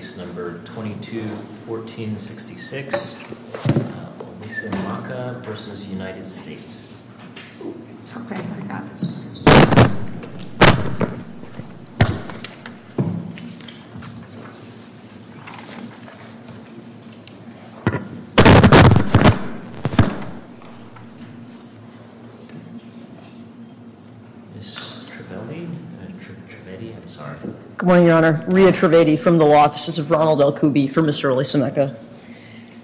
Case number 221466, Olisemeka v. United States. Okay, I got it. Ms. Trevely? Trevedy? I'm sorry. Good morning, Your Honor. Rhea Trevedy from the Law Offices of Ronald L. Kuby for Mr. Olisemeka.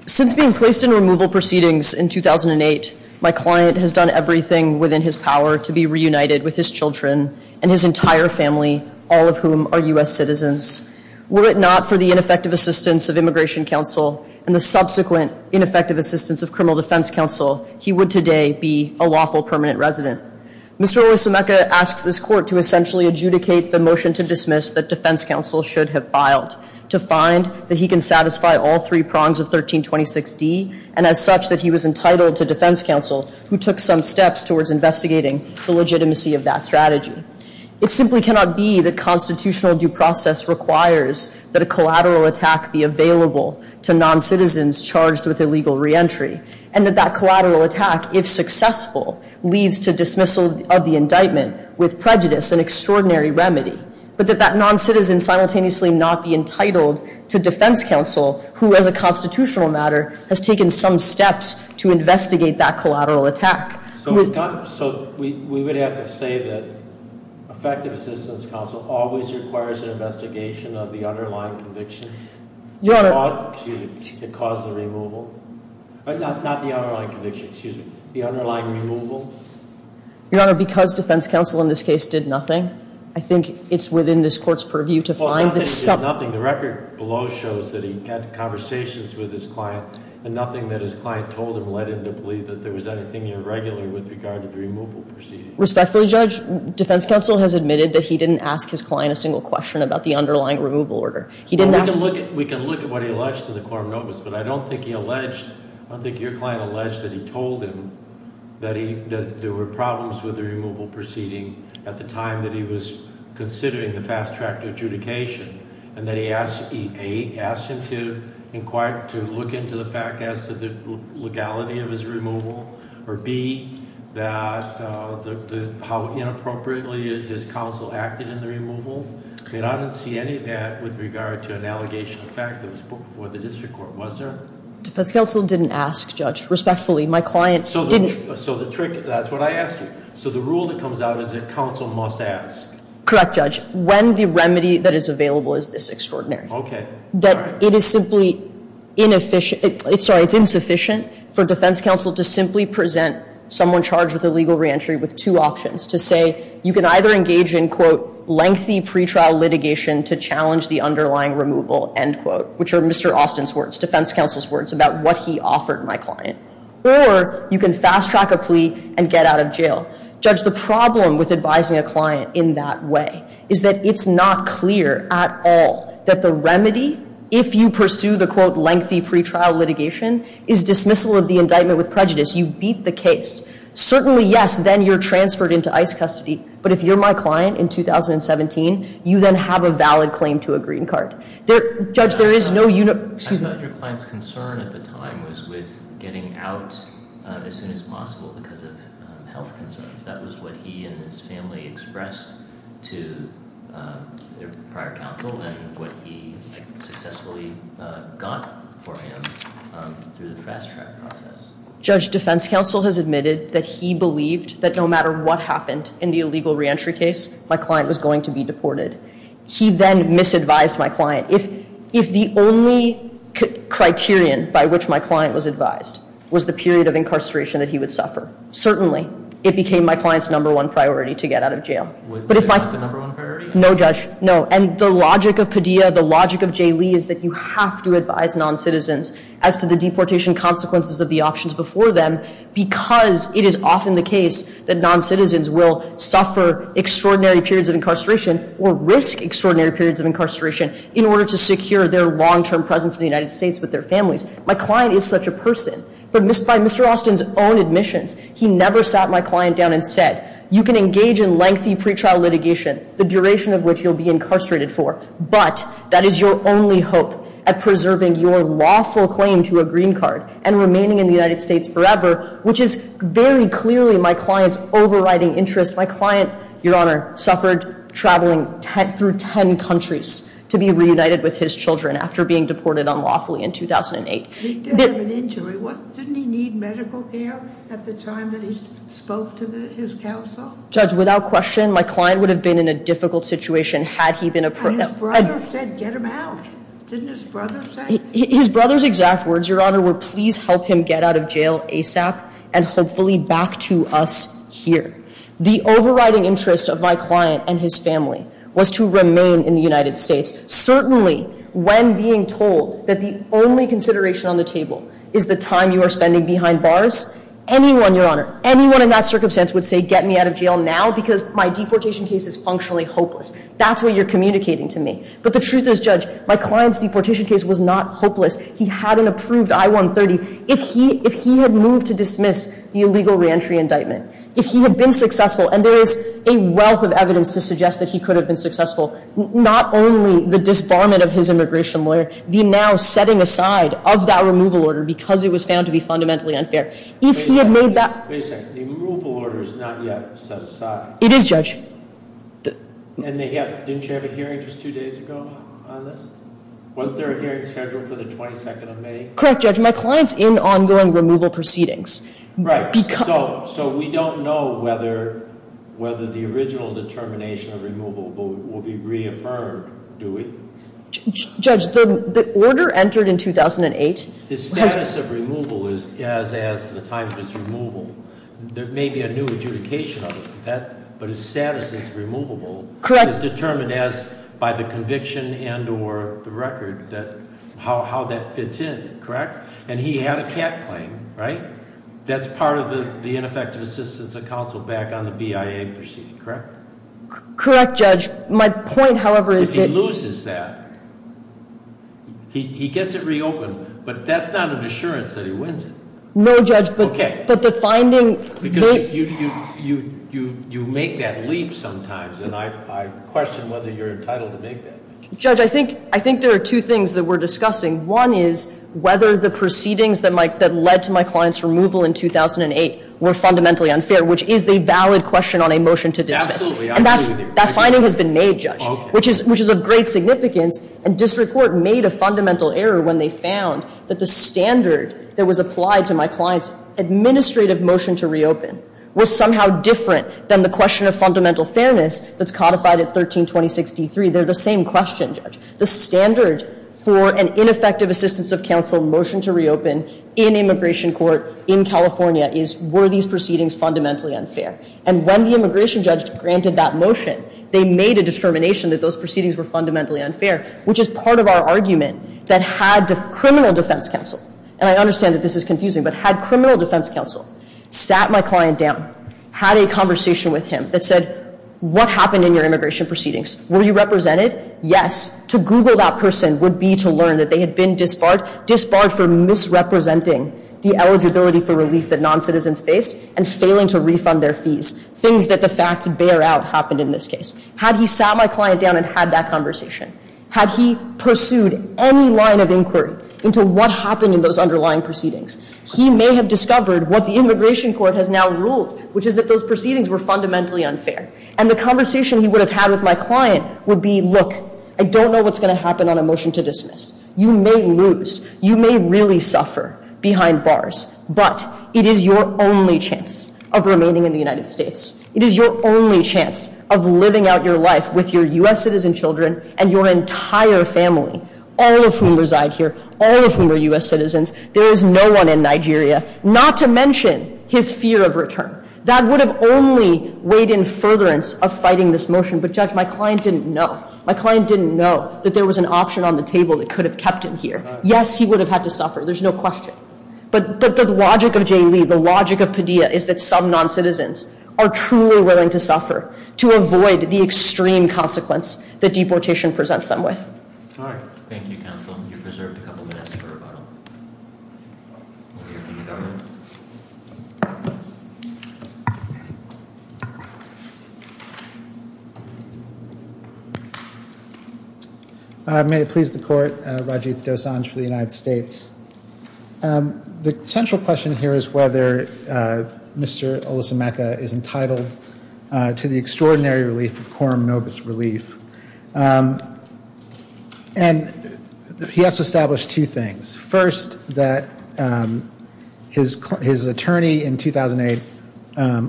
Since being placed in removal proceedings in 2008, my client has done everything within his power to be reunited with his children and his entire family, all of whom are U.S. citizens. Were it not for the ineffective assistance of Immigration Counsel and the subsequent ineffective assistance of Criminal Defense Counsel, he would today be a lawful permanent resident. Mr. Olisemeka asks this Court to essentially adjudicate the motion to dismiss that Defense Counsel should have filed, to find that he can satisfy all three prongs of 1326D, and as such that he was entitled to Defense Counsel, who took some steps towards investigating the legitimacy of that strategy. It simply cannot be that constitutional due process requires that a collateral attack be available to non-citizens charged with illegal reentry, and that that collateral attack, if successful, leads to dismissal of the indictment with prejudice, an extraordinary remedy, but that that non-citizen simultaneously not be entitled to Defense Counsel, who, as a constitutional matter, has taken some steps to investigate that collateral attack. So we would have to say that effective assistance counsel always requires an investigation of the underlying conviction? Your Honor. Excuse me. The cause of the removal? Not the underlying conviction, excuse me. The underlying removal? Your Honor, because Defense Counsel in this case did nothing, I think it's within this Court's purview to find that some- Well, nothing is nothing. The record below shows that he had conversations with his client, and nothing that his client told him led him to believe that there was anything irregular with regard to the removal proceeding. Respectfully, Judge, Defense Counsel has admitted that he didn't ask his client a single question about the underlying removal order. He didn't ask- We can look at what he alleged to the quorum notice, but I don't think he alleged, I don't think your client alleged that he told him that there were problems with the removal proceeding at the time that he was considering the fast-track adjudication, and that he, A, asked him to inquire, to look into the fact as to the legality of his removal, or B, how inappropriately his counsel acted in the removal. And I don't see any of that with regard to an allegation of fact that was put before the district court. Was there? Defense Counsel didn't ask, Judge, respectfully. My client didn't- So the trick, that's what I asked you. So the rule that comes out is that counsel must ask. Correct, Judge. When the remedy that is available is this extraordinary. Okay. That it is simply inefficient, sorry, it's insufficient for Defense Counsel to simply present someone charged with illegal reentry with two options, to say you can either engage in, quote, lengthy pretrial litigation to challenge the underlying removal, end quote, which are Mr. Austin's words, Defense Counsel's words about what he offered my client, or you can fast-track a plea and get out of jail. Judge, the problem with advising a client in that way is that it's not clear at all that the remedy, if you pursue the, quote, lengthy pretrial litigation, is dismissal of the indictment with prejudice. You beat the case. Certainly, yes, then you're transferred into ICE custody. But if you're my client in 2017, you then have a valid claim to a green card. Judge, there is no- I thought your client's concern at the time was with getting out as soon as possible because of health concerns. That was what he and his family expressed to their prior counsel and what he successfully got for him through the fast-track process. Judge, Defense Counsel has admitted that he believed that no matter what happened in the illegal reentry case, my client was going to be deported. He then misadvised my client. If the only criterion by which my client was advised was the period of incarceration that he would suffer, certainly it became my client's number one priority to get out of jail. Was it not the number one priority? No, Judge, no. And the logic of Padilla, the logic of J. Lee is that you have to advise noncitizens as to the deportation consequences of the options before them because it is often the case that noncitizens will suffer extraordinary periods of incarceration or risk extraordinary periods of incarceration in order to secure their long-term presence in the United States with their families. My client is such a person. But by Mr. Austin's own admissions, he never sat my client down and said, you can engage in lengthy pretrial litigation, the duration of which you'll be incarcerated for, but that is your only hope at preserving your lawful claim to a green card and remaining in the United States forever, which is very clearly my client's overriding interest. My client, Your Honor, suffered traveling through 10 countries to be reunited with his children after being deported unlawfully in 2008. He did have an injury. Didn't he need medical care at the time that he spoke to his counsel? Judge, without question, my client would have been in a difficult situation had he been a... And his brother said, get him out. Didn't his brother say? His brother's exact words, Your Honor, were please help him get out of jail ASAP and hopefully back to us here. The overriding interest of my client and his family was to remain in the United States. Certainly, when being told that the only consideration on the table is the time you are spending behind bars, anyone, Your Honor, anyone in that circumstance would say get me out of jail now because my deportation case is functionally hopeless. That's what you're communicating to me. But the truth is, Judge, my client's deportation case was not hopeless. He had an approved I-130. If he had moved to dismiss the illegal reentry indictment, if he had been successful, and there is a wealth of evidence to suggest that he could have been successful, not only the disbarment of his immigration lawyer, the now setting aside of that removal order because it was found to be fundamentally unfair, if he had made that... Wait a second. The removal order is not yet set aside. It is, Judge. And didn't you have a hearing just two days ago on this? Wasn't there a hearing scheduled for the 22nd of May? Correct, Judge. My client's in ongoing removal proceedings. Right. So we don't know whether the original determination of removal will be reaffirmed, do we? Judge, the order entered in 2008. His status of removal is as the time of his removal. There may be a new adjudication of it, but his status as removable is determined as by the conviction and or the record, how that fits in, correct? And he had a cat claim, right? That's part of the ineffective assistance of counsel back on the BIA proceeding, correct? Correct, Judge. My point, however, is that... If he loses that, he gets it reopened, but that's not an assurance that he wins it. No, Judge, but the finding... Because you make that leap sometimes, and I question whether you're entitled to make that leap. Judge, I think there are two things that we're discussing. One is whether the proceedings that led to my client's removal in 2008 were fundamentally unfair, which is a valid question on a motion to dismiss. And that finding has been made, Judge, which is of great significance. And district court made a fundamental error when they found that the standard that was applied to my client's administrative motion to reopen was somehow different than the question of fundamental fairness that's codified at 1326d3. They're the same question, Judge. The standard for an ineffective assistance of counsel motion to reopen in immigration court in California is, were these proceedings fundamentally unfair? And when the immigration judge granted that motion, they made a determination that those proceedings were fundamentally unfair, which is part of our argument that had criminal defense counsel... And I understand that this is confusing, but had criminal defense counsel sat my client down, had a conversation with him that said, what happened in your immigration proceedings? Were you represented? Yes. To Google that person would be to learn that they had been disbarred, disbarred for misrepresenting the eligibility for relief that noncitizens faced and failing to refund their fees, things that the facts bear out happened in this case. Had he sat my client down and had that conversation, had he pursued any line of inquiry into what happened in those underlying proceedings, he may have discovered what the immigration court has now ruled, which is that those proceedings were fundamentally unfair. And the conversation he would have had with my client would be, look, I don't know what's going to happen on a motion to dismiss. You may lose. You may really suffer behind bars. But it is your only chance of remaining in the United States. It is your only chance of living out your life with your U.S. citizen children and your entire family, all of whom reside here, all of whom are U.S. citizens. There is no one in Nigeria, not to mention his fear of return. That would have only weighed in furtherance of fighting this motion. But, Judge, my client didn't know. My client didn't know that there was an option on the table that could have kept him here. Yes, he would have had to suffer. There's no question. But the logic of J. Lee, the logic of Padilla, is that some noncitizens are truly willing to suffer to avoid the extreme consequence that deportation presents them with. All right. Thank you, Counsel. You're preserved a couple minutes for rebuttal. We'll hear from you, Governor. May it please the Court. Rajiv Dosanjh for the United States. The central question here is whether Mr. Olusemeke is entitled to the extraordinary relief of Coram Novus relief. And he has established two things. First, that his attorney in 2008,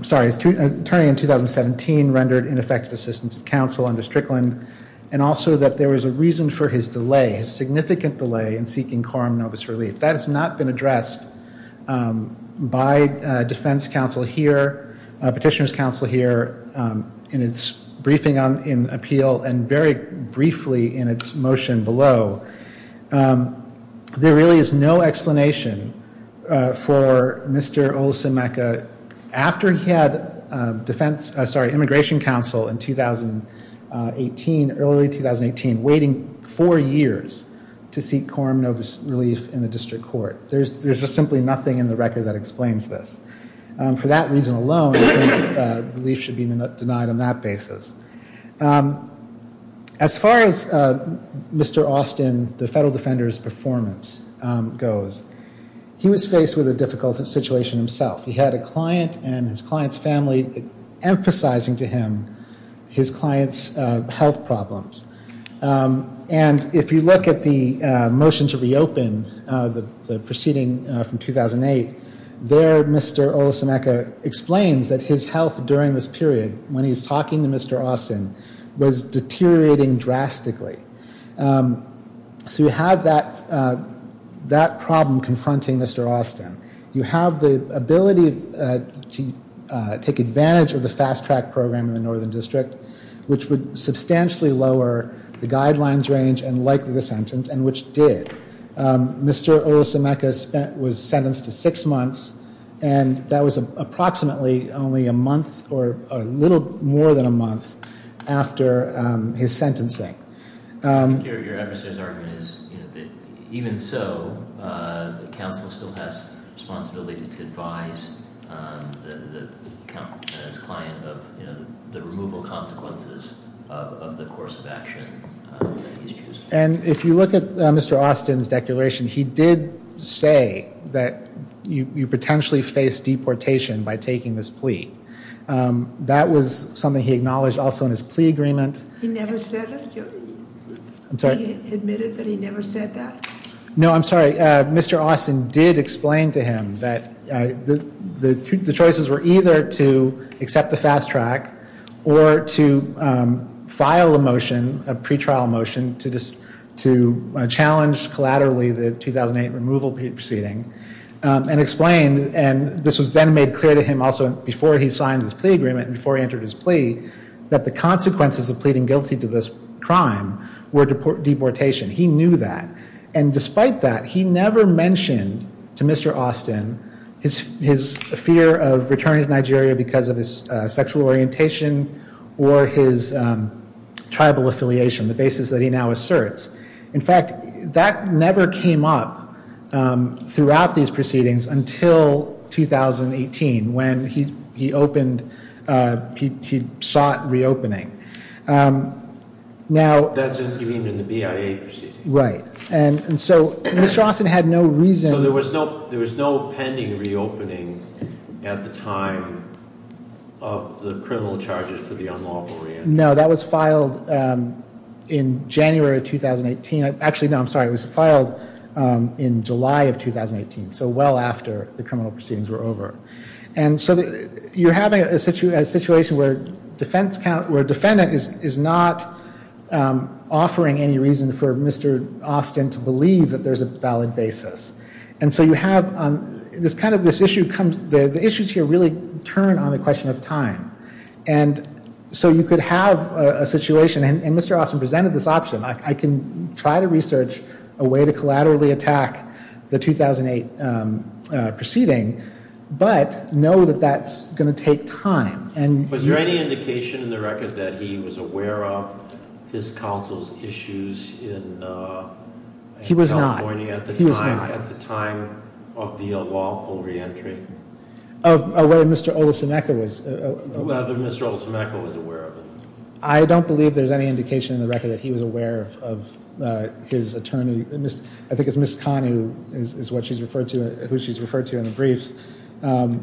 sorry, his attorney in 2017 rendered ineffective assistance of counsel under Strickland, and also that there was a reason for his delay, his significant delay in seeking Coram Novus relief. That has not been addressed by defense counsel here, petitioner's counsel here, in its briefing in appeal, and very briefly in its motion below. There really is no explanation for Mr. Olusemeke, after he had immigration counsel in early 2018, waiting four years to seek Coram Novus relief in the district court. There's just simply nothing in the record that explains this. For that reason alone, I think relief should be denied on that basis. As far as Mr. Austin, the federal defender's performance goes, he was faced with a difficult situation himself. He had a client and his client's family emphasizing to him his client's health problems. And if you look at the motion to reopen, the proceeding from 2008, there Mr. Olusemeke explains that his health during this period, when he's talking to Mr. Austin, was deteriorating drastically. So you have that problem confronting Mr. Austin. You have the ability to take advantage of the fast track program in the northern district, which would substantially lower the guidelines range and likely the sentence, and which did. Mr. Olusemeke was sentenced to six months, and that was approximately only a month, or a little more than a month, after his sentencing. I think your adversary's argument is that even so, the council still has responsibility to advise the client of the removal consequences of the course of action that he's choosing. And if you look at Mr. Austin's declaration, he did say that you potentially face deportation by taking this plea. That was something he acknowledged also in his plea agreement. He never said it? I'm sorry? He admitted that he never said that? No, I'm sorry. Mr. Austin did explain to him that the choices were either to accept the fast track or to file a motion, a pretrial motion, to challenge collaterally the 2008 removal proceeding, and explained, and this was then made clear to him also before he signed his plea agreement and before he entered his plea, that the consequences of pleading guilty to this crime were deportation. He knew that. And despite that, he never mentioned to Mr. Austin his fear of returning to Nigeria because of his sexual orientation or his tribal affiliation, the basis that he now asserts. In fact, that never came up throughout these proceedings until 2018 when he opened, he sought reopening. That's what you mean in the BIA proceeding? Right. And so Mr. Austin had no reason. So there was no pending reopening at the time of the criminal charges for the unlawful reentry? No, that was filed in January of 2018. Actually, no, I'm sorry, it was filed in July of 2018, so well after the criminal proceedings were over. And so you're having a situation where a defendant is not offering any reason for Mr. Austin to believe that there's a valid basis. And so you have kind of this issue, the issues here really turn on the question of time. And so you could have a situation, and Mr. Austin presented this option, I can try to research a way to collaterally attack the 2008 proceeding, but know that that's going to take time. Was there any indication in the record that he was aware of his counsel's issues in California at the time of the unlawful reentry? Of whether Mr. Olusemeka was aware of it? I don't believe there's any indication in the record that he was aware of his attorney. I think it's Ms. Kahn who she's referred to in the briefs. I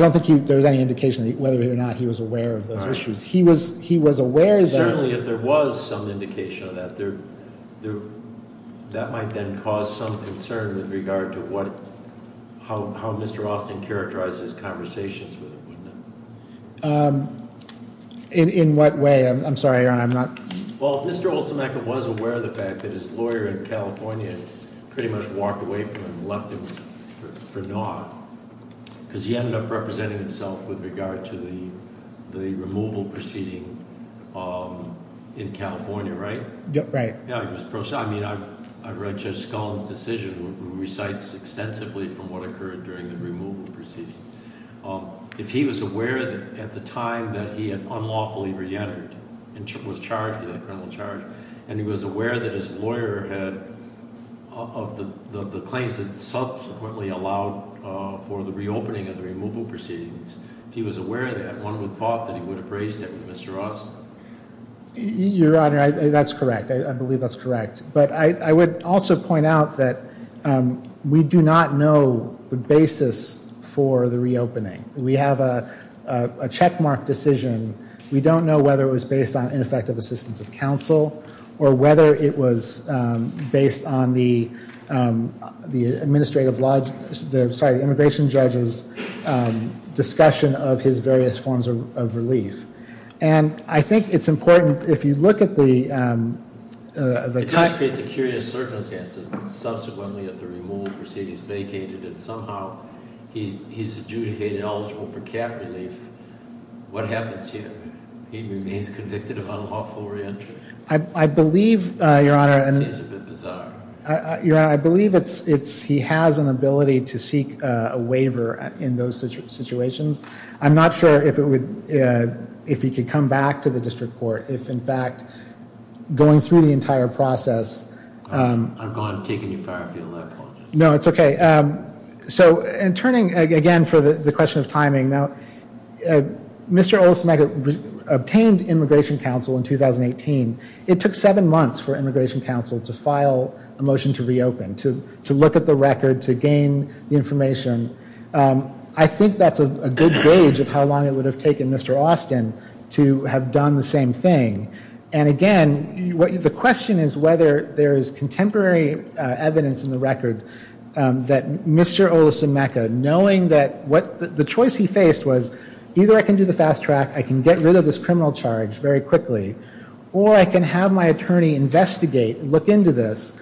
don't think there was any indication whether or not he was aware of those issues. He was aware that- Certainly if there was some indication of that, that might then cause some concern with regard to how Mr. Austin characterized his conversations with him. In what way? I'm sorry, Aaron, I'm not- Well, Mr. Olusemeka was aware of the fact that his lawyer in California pretty much walked away from him and left him for naught. Because he ended up representing himself with regard to the removal proceeding in California, right? Right. Yeah, I read Judge Scullin's decision, which recites extensively from what occurred during the removal proceeding. If he was aware at the time that he had unlawfully reentered and was charged with a criminal charge, and he was aware that his lawyer had, of the claims that subsequently allowed for the reopening of the removal proceedings, if he was aware of that, one would have thought that he would have raised that with Mr. Austin. Your Honor, that's correct. I believe that's correct. But I would also point out that we do not know the basis for the reopening. We have a checkmark decision. We don't know whether it was based on ineffective assistance of counsel, or whether it was based on the immigration judge's discussion of his various forms of relief. And I think it's important, if you look at the... It does create the curious circumstance that subsequently at the removal proceedings vacated, and somehow he's adjudicated eligible for cap relief, what happens here? He remains convicted of unlawful reentry? I believe, Your Honor... That seems a bit bizarre. Your Honor, I believe he has an ability to seek a waiver in those situations. I'm not sure if he could come back to the district court. If, in fact, going through the entire process... I'm taking you far afield. I apologize. No, it's okay. So, in turning again for the question of timing, Mr. Olsen obtained immigration counsel in 2018. It took seven months for immigration counsel to file a motion to reopen, to look at the record, to gain the information. I think that's a good gauge of how long it would have taken Mr. Austin to have done the same thing. And again, the question is whether there is contemporary evidence in the record that Mr. Olsen Mecca, knowing that the choice he faced was, either I can do the fast track, I can get rid of this criminal charge very quickly, or I can have my attorney investigate, look into this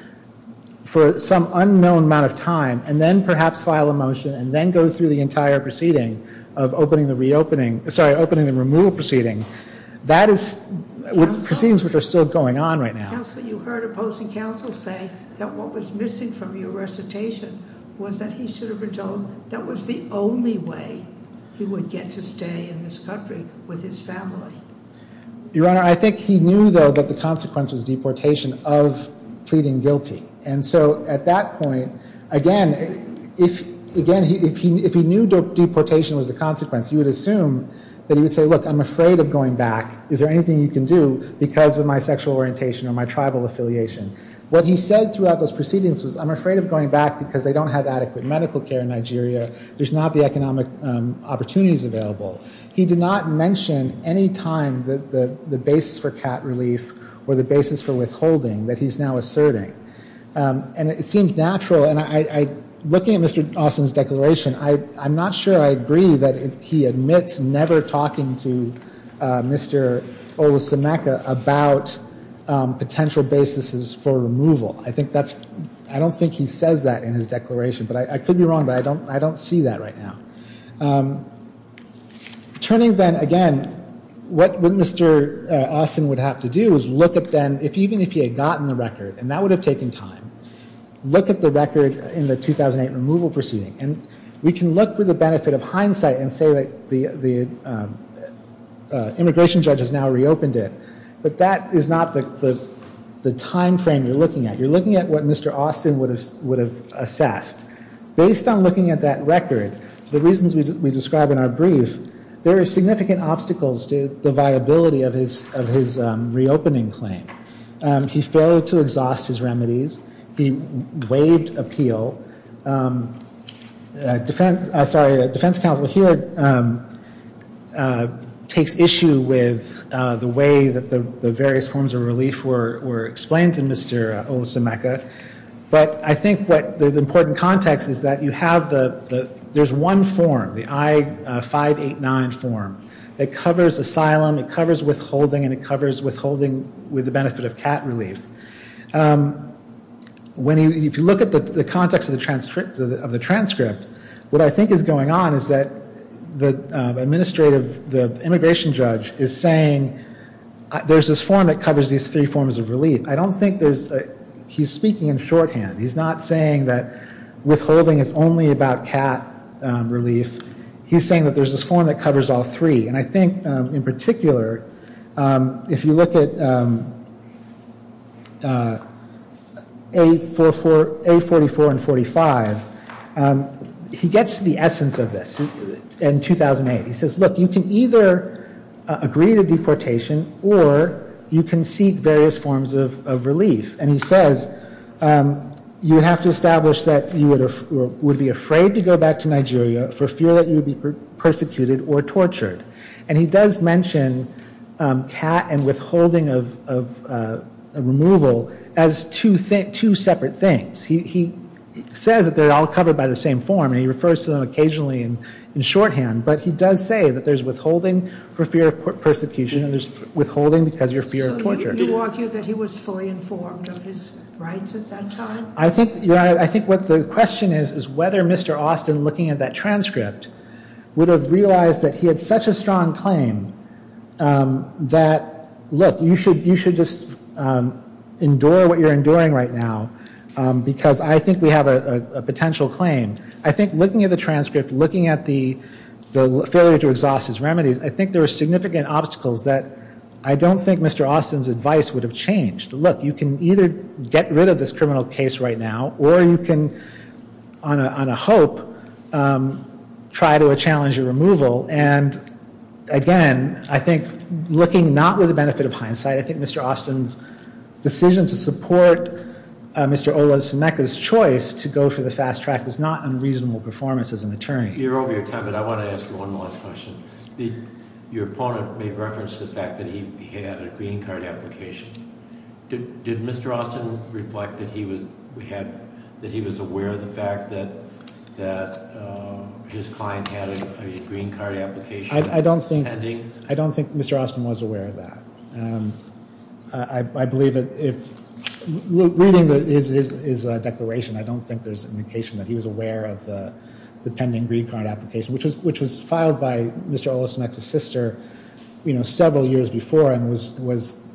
for some unknown amount of time, and then perhaps file a motion and then go through the entire proceeding of opening the removal proceeding. That is proceedings which are still going on right now. Counsel, you heard opposing counsel say that what was missing from your recitation was that he should have been told that was the only way he would get to stay in this country with his family. Your Honor, I think he knew, though, that the consequence was deportation of pleading guilty. And so at that point, again, if he knew deportation was the consequence, you would assume that he would say, look, I'm afraid of going back. Is there anything you can do because of my sexual orientation or my tribal affiliation? What he said throughout those proceedings was, I'm afraid of going back because they don't have adequate medical care in Nigeria. There's not the economic opportunities available. He did not mention any time the basis for cat relief or the basis for withholding that he's now asserting. And it seems natural, and looking at Mr. Dawson's declaration, I'm not sure I agree that he admits never talking to Mr. Olusemeke about potential basis for removal. I think that's, I don't think he says that in his declaration. But I could be wrong, but I don't see that right now. Turning then, again, what Mr. Austin would have to do is look at then, even if he had gotten the record, and that would have taken time, look at the record in the 2008 removal proceeding. And we can look with the benefit of hindsight and say that the immigration judge has now reopened it. But that is not the timeframe you're looking at. You're looking at what Mr. Austin would have assessed. Based on looking at that record, the reasons we describe in our brief, there are significant obstacles to the viability of his reopening claim. He failed to exhaust his remedies. He waived appeal. Defense counsel here takes issue with the way that the various forms of relief were explained to Mr. Olusemeke. But I think what the important context is that you have the, there's one form, the I-589 form, that covers asylum, it covers withholding, and it covers withholding with the benefit of cat relief. When you, if you look at the context of the transcript, what I think is going on is that the administrative, the immigration judge is saying there's this form that covers these three forms of relief. I don't think there's, he's speaking in shorthand. He's not saying that withholding is only about cat relief. He's saying that there's this form that covers all three. And I think in particular, if you look at A44 and 45, he gets to the essence of this in 2008. He says, look, you can either agree to deportation or you can seek various forms of relief. And he says, you have to establish that you would be afraid to go back to Nigeria for fear that you would be persecuted or tortured. And he does mention cat and withholding of removal as two separate things. He says that they're all covered by the same form, and he refers to them occasionally in shorthand. But he does say that there's withholding for fear of persecution and there's withholding because of your fear of torture. So you argue that he was fully informed of his rights at that time? I think, Your Honor, I think what the question is is whether Mr. Austin, looking at that transcript, would have realized that he had such a strong claim that, look, you should just endure what you're enduring right now because I think we have a potential claim. I think looking at the transcript, looking at the failure to exhaust his remedies, I think there are significant obstacles that I don't think Mr. Austin's advice would have changed. Look, you can either get rid of this criminal case right now or you can, on a hope, try to challenge a removal. And, again, I think looking not with the benefit of hindsight, I think Mr. Austin's decision to support Mr. Olasuneka's choice to go for the fast track was not unreasonable performance as an attorney. You're over your time, but I want to ask one last question. Your opponent made reference to the fact that he had a green card application. Did Mr. Austin reflect that he was aware of the fact that his client had a green card application? I don't think Mr. Austin was aware of that. I believe that if reading his declaration, I don't think there's indication that he was aware of the pending green card application, which was filed by Mr. Olasuneka's sister several years before and was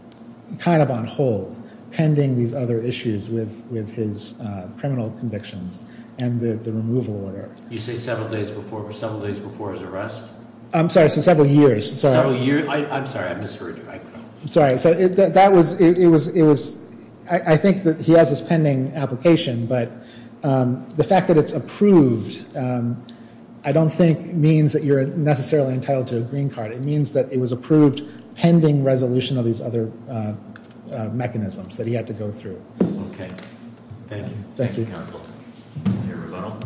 kind of on hold pending these other issues with his criminal convictions and the removal order. You say several days before his arrest? I'm sorry, several years. Several years? I'm sorry, I misheard you. I'm sorry. I think that he has this pending application, but the fact that it's approved, I don't think means that you're necessarily entitled to a green card. It means that it was approved pending resolution of these other mechanisms that he had to go through. Okay. Thank you. Thank you, counsel. Your rebuttal.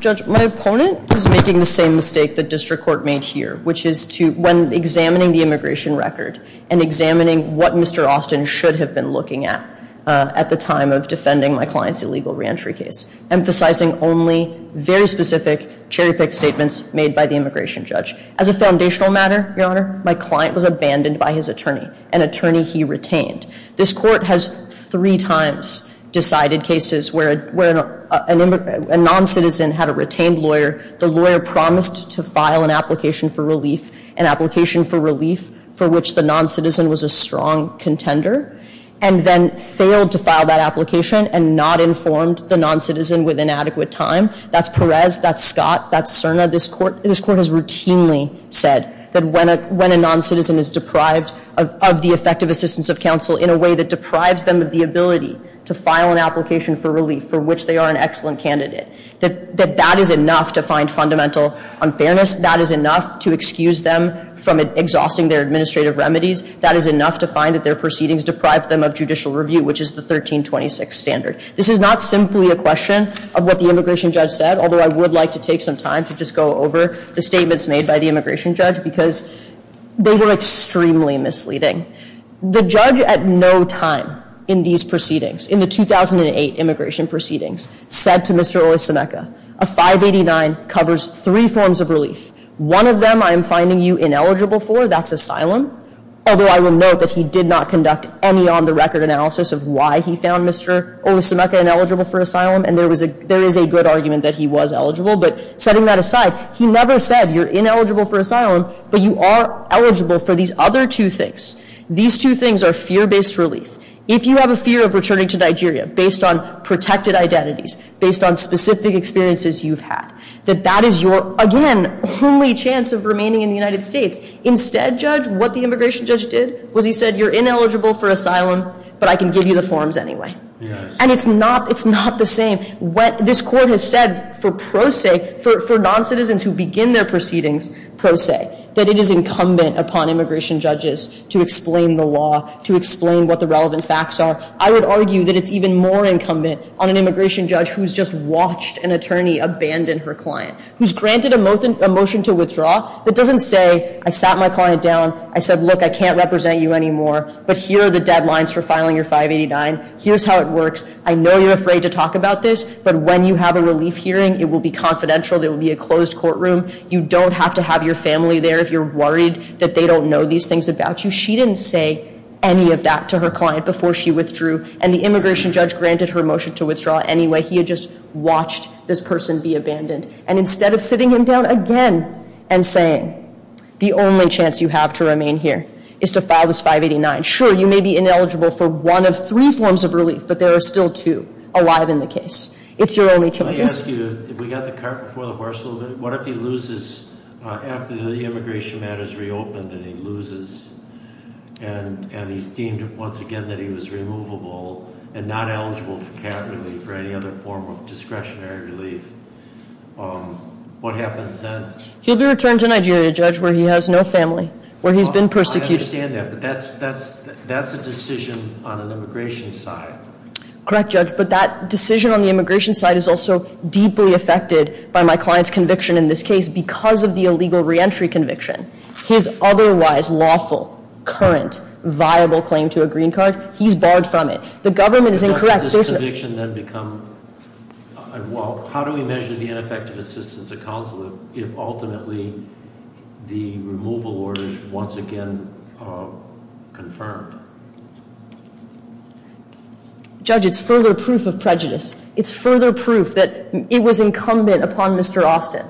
Judge, my opponent is making the same mistake the district court made here, which is when examining the immigration record and examining what Mr. Austin should have been looking at at the time of defending my client's illegal reentry case, emphasizing only very specific cherry-picked statements made by the immigration judge. As a foundational matter, Your Honor, my client was abandoned by his attorney, an attorney he retained. This court has three times decided cases where a non-citizen had a retained lawyer, the lawyer promised to file an application for relief, an application for relief for which the non-citizen was a strong contender, and then failed to file that application and not informed the non-citizen within adequate time. That's Perez, that's Scott, that's Cerna. This court has routinely said that when a non-citizen is deprived of the effective assistance of counsel in a way that deprives them of the ability to file an application for relief for which they are an excellent candidate, that that is enough to find fundamental unfairness. That is enough to excuse them from exhausting their administrative remedies. That is enough to find that their proceedings deprive them of judicial review, which is the 1326 standard. This is not simply a question of what the immigration judge said, although I would like to take some time to just go over the statements made by the immigration judge, because they were extremely misleading. The judge at no time in these proceedings, in the 2008 immigration proceedings, said to Mr. Olusemeka, a 589 covers three forms of relief. One of them I am finding you ineligible for, that's asylum, although I will note that he did not conduct any on-the-record analysis of why he found Mr. Olusemeka ineligible for asylum, and there is a good argument that he was eligible, but setting that aside, he never said you're ineligible for asylum, but you are eligible for these other two things. These two things are fear-based relief. If you have a fear of returning to Nigeria based on protected identities, based on specific experiences you've had, that that is your, again, only chance of remaining in the United States. Instead, Judge, what the immigration judge did was he said you're ineligible for asylum, but I can give you the forms anyway. And it's not the same. This Court has said for pro se, for noncitizens who begin their proceedings pro se, that it is incumbent upon immigration judges to explain the law, to explain what the relevant facts are. I would argue that it's even more incumbent on an immigration judge who's just watched an attorney abandon her client, who's granted a motion to withdraw, that doesn't say I sat my client down, I said, look, I can't represent you anymore, but here are the deadlines for filing your 589, here's how it works, I know you're afraid to talk about this, but when you have a relief hearing, it will be confidential, there will be a closed courtroom, you don't have to have your family there if you're worried that they don't know these things about you. She didn't say any of that to her client before she withdrew, and the immigration judge granted her motion to withdraw anyway. He had just watched this person be abandoned. And instead of sitting him down again and saying, the only chance you have to remain here is to file this 589. Sure, you may be ineligible for one of three forms of relief, but there are still two alive in the case. It's your only chance. Let me ask you, if we got the cart before the horse a little bit, what if he loses after the immigration matters reopened and he loses? And he's deemed, once again, that he was removable and not eligible for cap relief or any other form of discretionary relief, what happens then? He'll be returned to Nigeria, Judge, where he has no family, where he's been persecuted. I understand that, but that's a decision on an immigration side. Correct, Judge, but that decision on the immigration side is also deeply affected by my client's conviction in this case because of the illegal reentry conviction. His otherwise lawful, current, viable claim to a green card, he's barred from it. The government is incorrect. Does this conviction then become, well, how do we measure the ineffective assistance of counsel if ultimately the removal order is once again confirmed? Judge, it's further proof of prejudice. It's further proof that it was incumbent upon Mr. Austin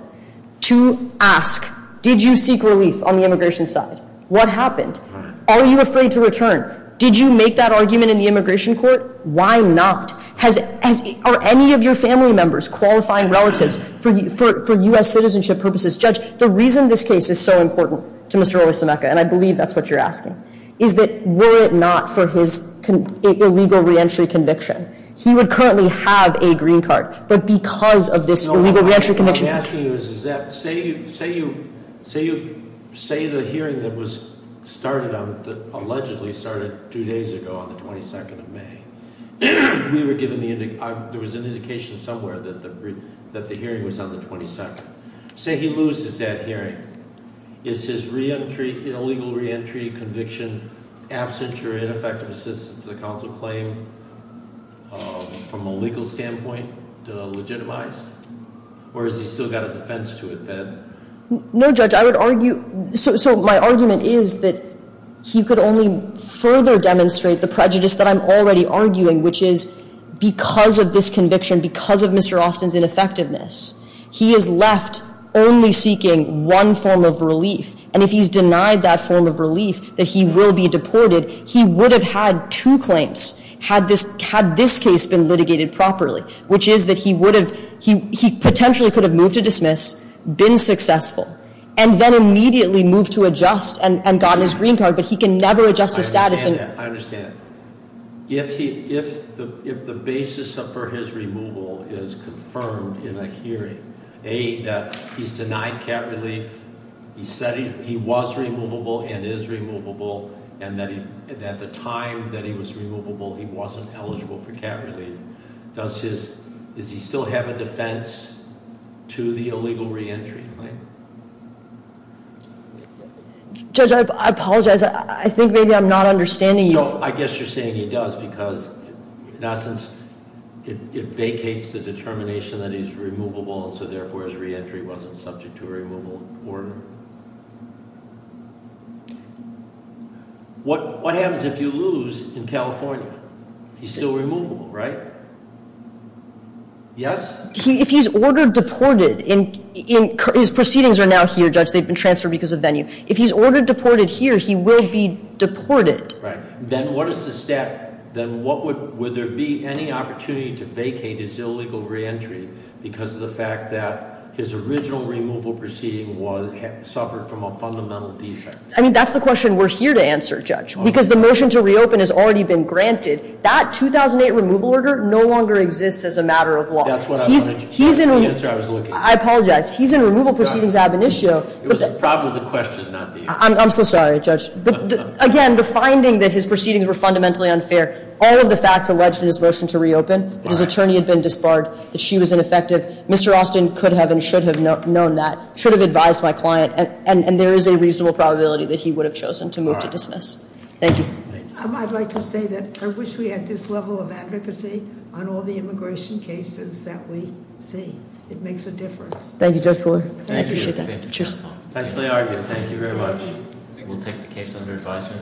to ask, did you seek relief on the immigration side? What happened? Are you afraid to return? Did you make that argument in the immigration court? Why not? Are any of your family members qualifying relatives for U.S. citizenship purposes? Judge, the reason this case is so important to Mr. Owasomeka, and I believe that's what you're asking, is that were it not for his illegal reentry conviction, he would currently have a green card. But because of this illegal reentry conviction- No, what I'm asking you is that, say the hearing that allegedly started two days ago on the 22nd of May. There was an indication somewhere that the hearing was on the 22nd. Say he loses that hearing. Is his illegal reentry conviction absent or ineffective assistance to the counsel claim? From a legal standpoint, legitimized? Or has he still got a defense to it then? No, Judge, I would argue- So my argument is that he could only further demonstrate the prejudice that I'm already arguing, which is because of this conviction, because of Mr. Austin's ineffectiveness, he is left only seeking one form of relief. And if he's denied that form of relief, that he will be deported, he would have had two claims had this case been litigated properly, which is that he potentially could have moved to dismiss, been successful, and then immediately moved to adjust and gotten his green card. But he can never adjust his status and- I understand that. I understand. If the basis for his removal is confirmed in a hearing, A, that he's denied cat relief, he said he was removable and is removable, and that at the time that he was removable, he wasn't eligible for cat relief, does he still have a defense to the illegal reentry claim? Judge, I apologize. I think maybe I'm not understanding you. So I guess you're saying he does because, in essence, it vacates the determination that he's removable, and so therefore his reentry wasn't subject to a removal order? What happens if you lose in California? He's still removable, right? Yes? If he's ordered deported, his proceedings are now here, Judge. They've been transferred because of venue. If he's ordered deported here, he will be deported. Right. Then what is the step? Then would there be any opportunity to vacate his illegal reentry because of the fact that his original removal proceeding suffered from a fundamental defect? I mean, that's the question we're here to answer, Judge, because the motion to reopen has already been granted. That 2008 removal order no longer exists as a matter of law. That's what I wanted you to hear, the answer I was looking for. I apologize. He's in removal proceedings ab initio. It was probably the question, not the answer. I'm so sorry, Judge. Again, the finding that his proceedings were fundamentally unfair, all of the facts alleged in his motion to reopen, that his attorney had been disbarred, that she was ineffective, Mr. Austin could have and should have known that, should have advised my client, and there is a reasonable probability that he would have chosen to move to dismiss. Thank you. I'd like to say that I wish we had this level of advocacy on all the immigration cases that we see. It makes a difference. Thank you, Judge Cooler. I appreciate that. Nicely argued. Thank you very much. We'll take the case under advisement.